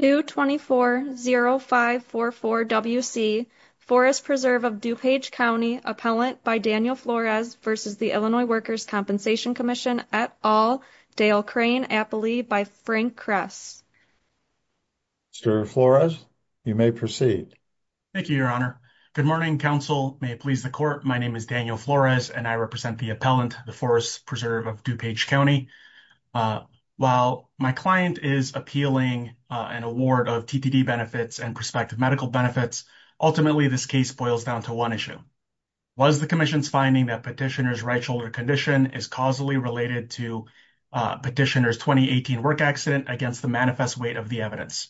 2240544WC, Forest Preserve of DuPage County, Appellant by Daniel Flores v. Illinois Workers' Compensation Comm'n et al., Dale Crane Appley by Frank Kress. Mr. Flores, you may proceed. Thank you, Your Honor. Good morning, counsel. May it please the court, my name is Daniel Flores and I represent the appellant, the Forest Preserve of DuPage County. While my client is appealing an award of TTD benefits and prospective medical benefits, ultimately this case boils down to one issue. Was the Commission's finding that Petitioner's right shoulder condition is causally related to Petitioner's 2018 work accident against the manifest weight of the evidence?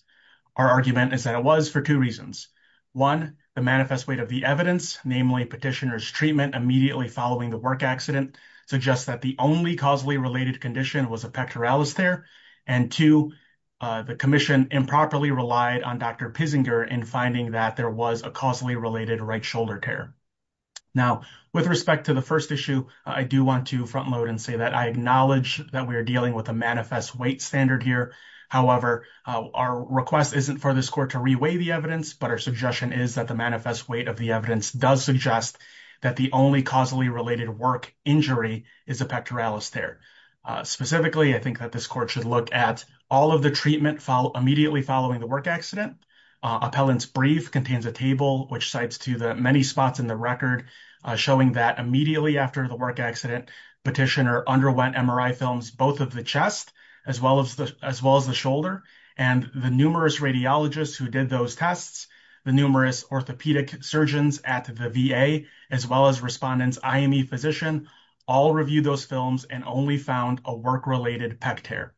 Our argument is that it was for two reasons. One, the manifest weight of the evidence, namely Petitioner's treatment immediately following the work accident, suggests that only causally related condition was a pectoralis tear. And two, the Commission improperly relied on Dr. Pissinger in finding that there was a causally related right shoulder tear. Now, with respect to the first issue, I do want to front load and say that I acknowledge that we are dealing with a manifest weight standard here. However, our request isn't for this court to re-weigh the evidence, but our suggestion is that the manifest weight of the pectoralis tear. Specifically, I think that this court should look at all of the treatment immediately following the work accident. Appellant's brief contains a table which cites to the many spots in the record showing that immediately after the work accident, Petitioner underwent MRI films, both of the chest as well as the shoulder, and the numerous radiologists who did those tests, the numerous orthopedic surgeons at the VA, as well as IME physician, all reviewed those films and only found a work-related pectoralis tear.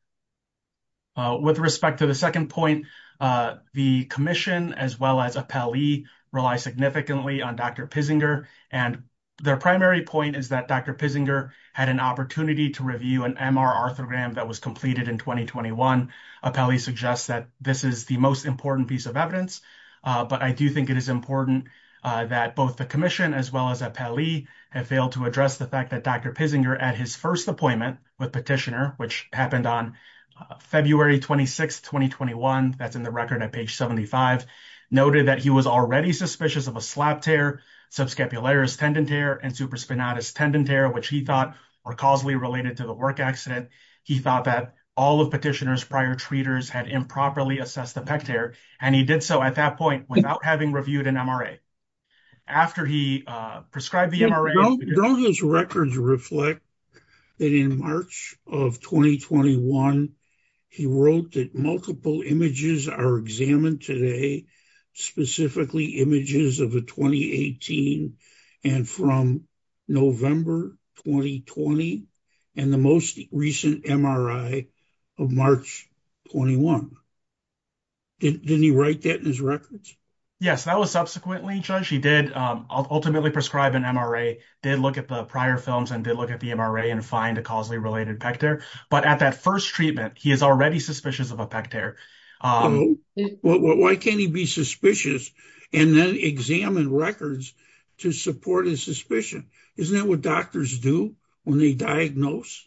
With respect to the second point, the Commission as well as Appellee rely significantly on Dr. Pissinger, and their primary point is that Dr. Pissinger had an opportunity to review an MR orthogram that was completed in 2021. Appellee suggests that this is the most important piece evidence, but I do think it is important that both the Commission as well as Appellee have failed to address the fact that Dr. Pissinger, at his first appointment with Petitioner, which happened on February 26, 2021, that's in the record at page 75, noted that he was already suspicious of a slap tear, subscapularis tendon tear, and supraspinatus tendon tear, which he thought were causally related to the work accident. He thought that all of Petitioner's prior treaters had improperly assessed the pectoralis tear, and he did so at that point without having reviewed an MRA. After he prescribed the MRA... Don't those records reflect that in March of 2021, he wrote that multiple images are examined today, specifically images of the 2018, and from November 2020, and the most recent MRI of March 21. Didn't he write that in his records? Yes, that was subsequently, Judge. He did ultimately prescribe an MRA, did look at the prior films, and did look at the MRA and find a causally related pec tear, but at that first treatment, he is already suspicious of a pec tear. Why can't he be suspicious and then examine records to support his suspicion? Isn't that what doctors do when they diagnose?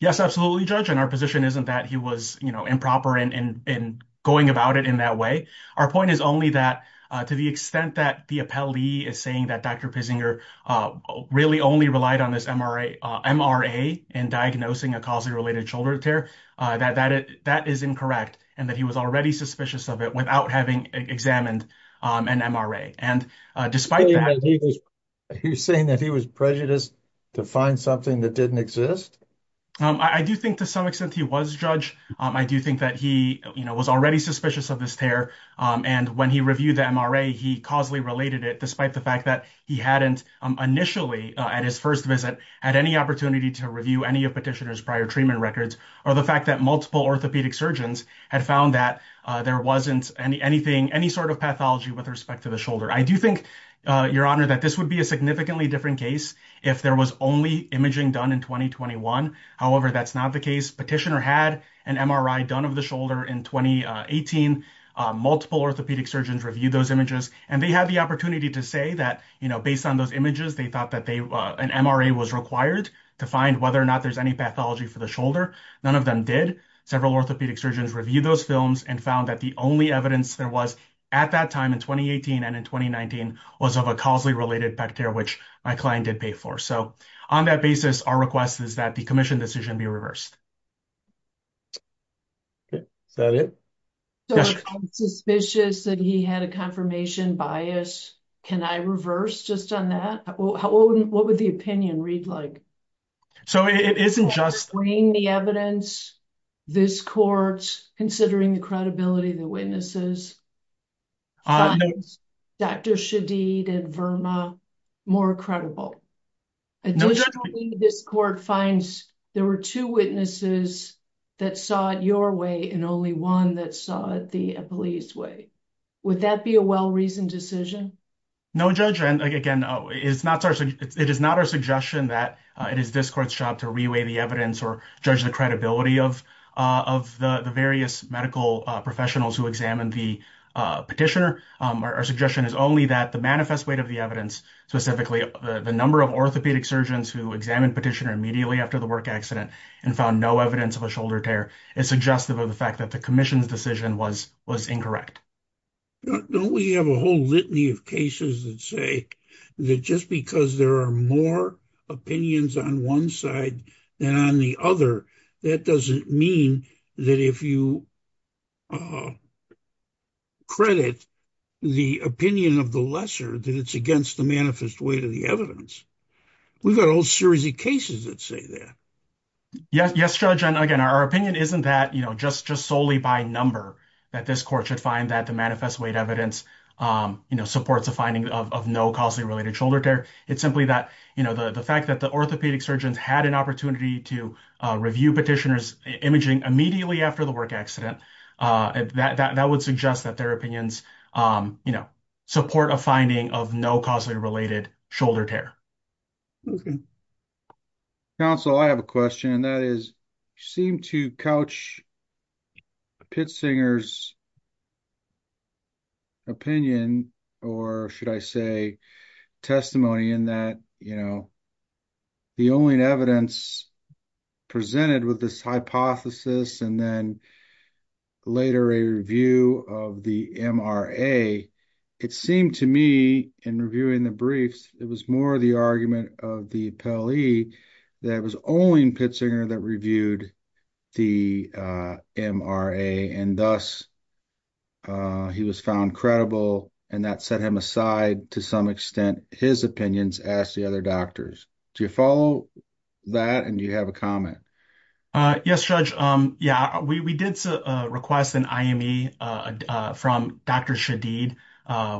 Yes, absolutely, Judge, and our position isn't that he was improper in going about it in that way. Our point is only that to the extent that the appellee is saying that Dr. Pissinger really only relied on this MRA in diagnosing a causally related shoulder tear, that is incorrect, and that he was already suspicious of it without having examined an MRA. You're saying that he was prejudiced to find something that didn't exist? I do think to some extent he was, Judge. I do think that he was already suspicious of this tear, and when he reviewed the MRA, he causally related it, despite the fact that he hadn't initially, at his first visit, had any opportunity to review any of Petitioner's prior treatment records, or the fact that multiple orthopedic surgeons had found that there wasn't any sort of pathology with respect to the shoulder. I do think, Your Honor, that this would be a significantly different case if there was only imaging done in 2021. However, that's not the case. Petitioner had an MRI done of the shoulder in 2018. Multiple orthopedic surgeons reviewed those images, and they had the opportunity to say that, based on those images, they thought that an MRA was required to find whether or not there's any pathology for the shoulder. None of them did. Several orthopedic surgeons reviewed those films and found that the only evidence there was at that time, in 2018 and in 2019, was of a causally related back tear, which my client did pay for. So, on that basis, our request is that the commission decision be reversed. Okay. Is that it? I'm suspicious that he had a confirmation bias. Can I reverse just on that? What would the opinion read like? So, it isn't just... Can you explain the evidence this court, considering the credibility of the witnesses, finds Dr. Shadid and Verma more credible? Additionally, this court finds there were two witnesses that saw it your way, and only one that saw it the police way. Would that be a well-reasoned decision? No, Judge. And again, it is not our suggestion that it is this court's job to reweigh the evidence or judge the credibility of the various medical professionals who examined the petitioner. Our suggestion is only that the manifest weight of the evidence, specifically the number of orthopedic surgeons who examined petitioner immediately after the work accident and found no evidence of a shoulder tear, is suggestive of the fact that the commission's decision was incorrect. Don't we have a whole litany of cases that say that just because there are more opinions on one side than on the other, that doesn't mean that if you credit the opinion of the lesser that it's against the manifest weight of the evidence. We've got a whole series of cases that say that. Yes, Judge. And again, our opinion isn't that just solely by number that this court should find that the manifest weight evidence supports the finding of no causally related shoulder tear. It's simply that the fact that the orthopedic surgeons had an opportunity to review petitioner's imaging immediately after the work accident, that would suggest that their opinions support a finding of no causally related shoulder tear. Okay. Counsel, I have a question and that is, you seem to couch a pittsinger's opinion or should I say testimony in that, you know, the only evidence presented with this hypothesis and then later a review of the MRA, it seemed to me in reviewing the briefs, it was more the argument of the appellee that it was only in pittsinger that reviewed the MRA and thus he was found credible and that set him aside to some extent his opinions as the other doctors. Do you follow that and do you have a comment? Yes, Judge. Yeah, we did request an IME from Dr. Shadid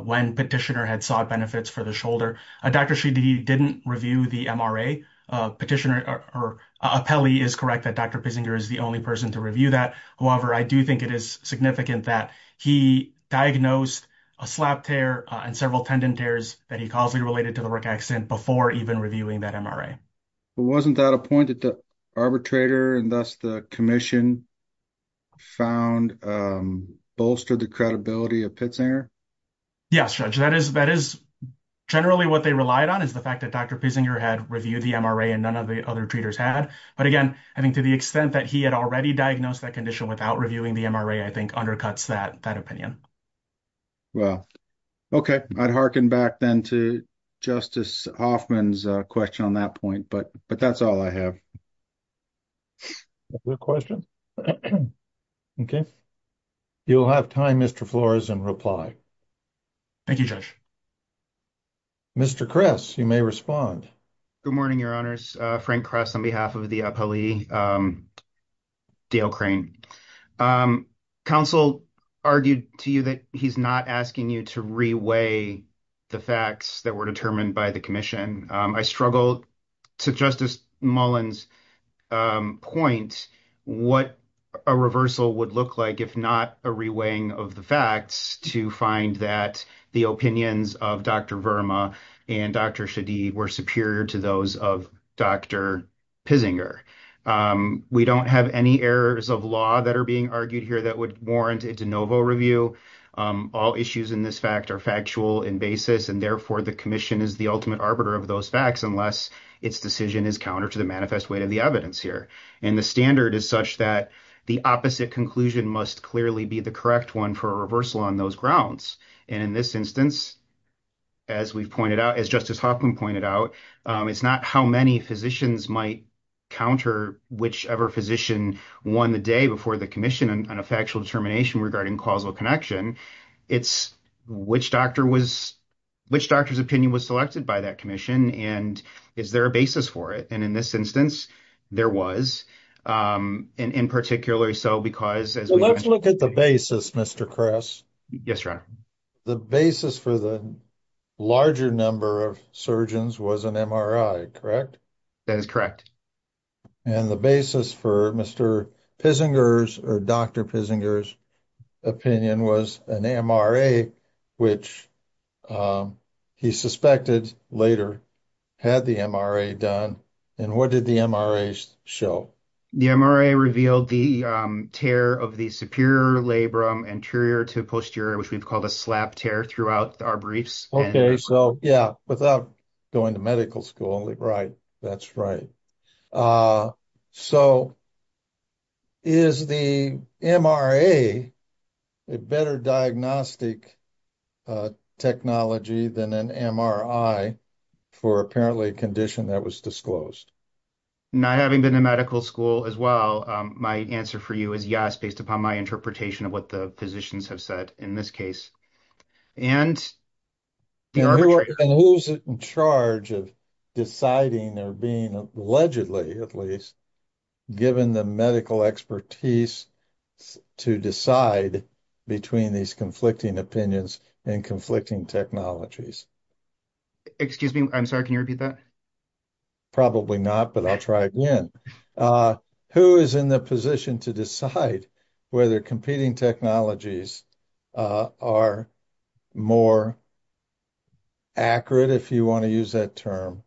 when petitioner had benefits for the shoulder. Dr. Shadid didn't review the MRA petitioner or appellee is correct that Dr. pittsinger is the only person to review that. However, I do think it is significant that he diagnosed a slap tear and several tendon tears that he causally related to the work accident before even reviewing that MRA. Wasn't that a point that the arbitrator and thus the commission found bolstered the credibility of pittsinger? Yes, Judge. That is generally what they relied on is the fact that Dr. pittsinger had reviewed the MRA and none of the other treaters had. But again, I think to the extent that he had already diagnosed that condition without reviewing the MRA, I think undercuts that opinion. Well, okay. I'd harken back then to Justice Hoffman's question on that point, but that's all I have. Okay. You'll have time Mr. Flores and reply. Thank you, Judge. Mr. Kress, you may respond. Good morning, your honors. Frank Kress on behalf of the appellee, Dale Crane. Counsel argued to you that he's not asking you to reweigh the facts that were in Dr. Shadid's point. What a reversal would look like if not a reweighing of the facts to find that the opinions of Dr. Verma and Dr. Shadid were superior to those of Dr. pittsinger. We don't have any errors of law that are being argued here that would warrant a de novo review. All issues in this fact are factual in basis and therefore the commission is the ultimate arbiter of those facts unless its decision is counter to the manifest weight of the evidence here. The standard is such that the opposite conclusion must clearly be the correct one for a reversal on those grounds. In this instance, as Justice Hoffman pointed out, it's not how many physicians might counter whichever physician won the day before the commission on a factual determination regarding causal connection. It's which doctor was, which doctor's opinion was selected by that commission and is there a basis for it? And in this instance, there was. And in particular, so because... Let's look at the basis, Mr. Kress. Yes, your honor. The basis for the larger number of surgeons was an MRI, correct? That is correct. And the basis for Mr. Pissinger's or Dr. Pissinger's opinion was an MRI, which he suspected later had the MRI done. And what did the MRIs show? The MRI revealed the tear of the superior labrum anterior to posterior, which we've called a slap tear throughout our briefs. Yeah, without going to medical school. Right, that's right. So is the MRA a better diagnostic technology than an MRI for apparently a condition that was disclosed? Not having been in medical school as well, my answer for you is yes, based upon my interpretation of what the physicians have said in this case. And the arbitration... And who's in charge of deciding or being, allegedly at least, given the medical expertise to decide between these conflicting opinions and conflicting technologies? Excuse me, I'm sorry, can you repeat that? Probably not, but I'll try again. Who is in the position to decide whether competing technologies are more accurate, if you want to use that term,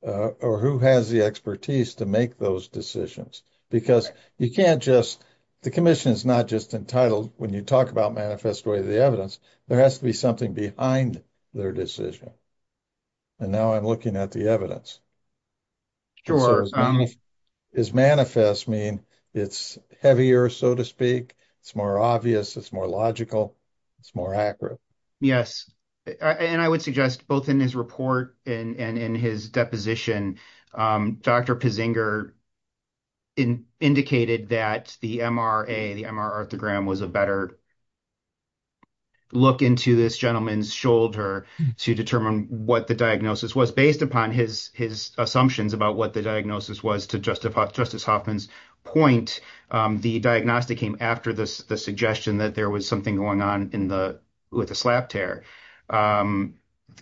or who has the expertise to make those decisions? Because you can't just... The commission is not just entitled, when you talk about manifest way of the evidence, there has to be something behind their decision. And now I'm looking at the evidence. Sure. Does manifest mean it's heavier, so to speak, it's more obvious, it's more logical, it's more accurate? Yes. And I would suggest both in his report and in his deposition, Dr. Pizinger indicated that the MRA, the MR orthogram was a better look into this gentleman's shoulder to determine what the diagnosis was. Based upon his assumptions about what the diagnosis was, to Justice Hoffman's point, the diagnostic came after the suggestion that there was something going on with a slap tear. The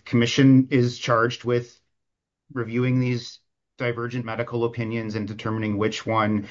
commission is charged with reviewing these divergent medical opinions and determining which one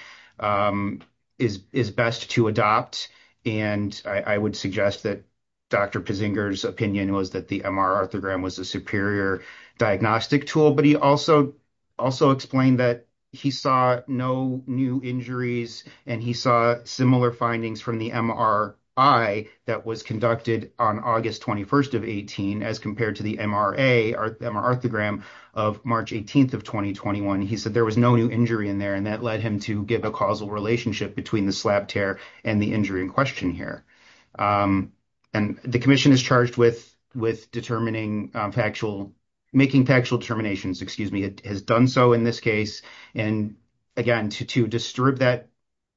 is best to adopt. And I would suggest that Dr. Pizinger's MR orthogram was a superior diagnostic tool, but he also explained that he saw no new injuries and he saw similar findings from the MRI that was conducted on August 21st of 18, as compared to the MRA, MR orthogram of March 18th of 2021. He said there was no new injury in there and that led him to give a causal relationship between the slap tear and the injury in question here. And the commission is charged with determining factual, making factual determinations, excuse me, has done so in this case. And again, to disturb that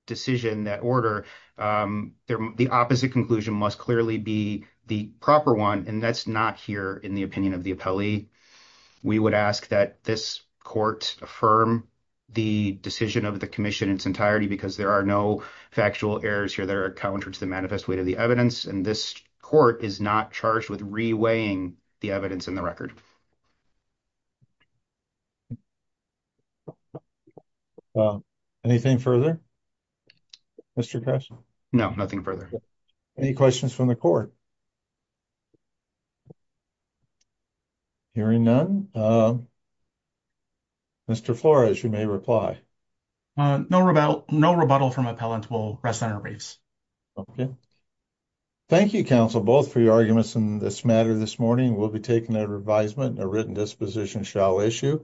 decision, that order, the opposite conclusion must clearly be the proper one and that's not here in the opinion of the appellee. We would ask that this court affirm the decision of the commission in its entirety because there are no factual errors here that are counter to the manifest weight of the evidence, and this court is not charged with re-weighing the evidence in the record. Anything further, Mr. Kress? No, nothing further. Any questions from the court? Hearing none, Mr. Flores, you may reply. No rebuttal from appellant will rest on our briefs. Okay. Thank you, counsel, both for your arguments in this matter this morning. We'll be taking a revisement and a written disposition shall issue.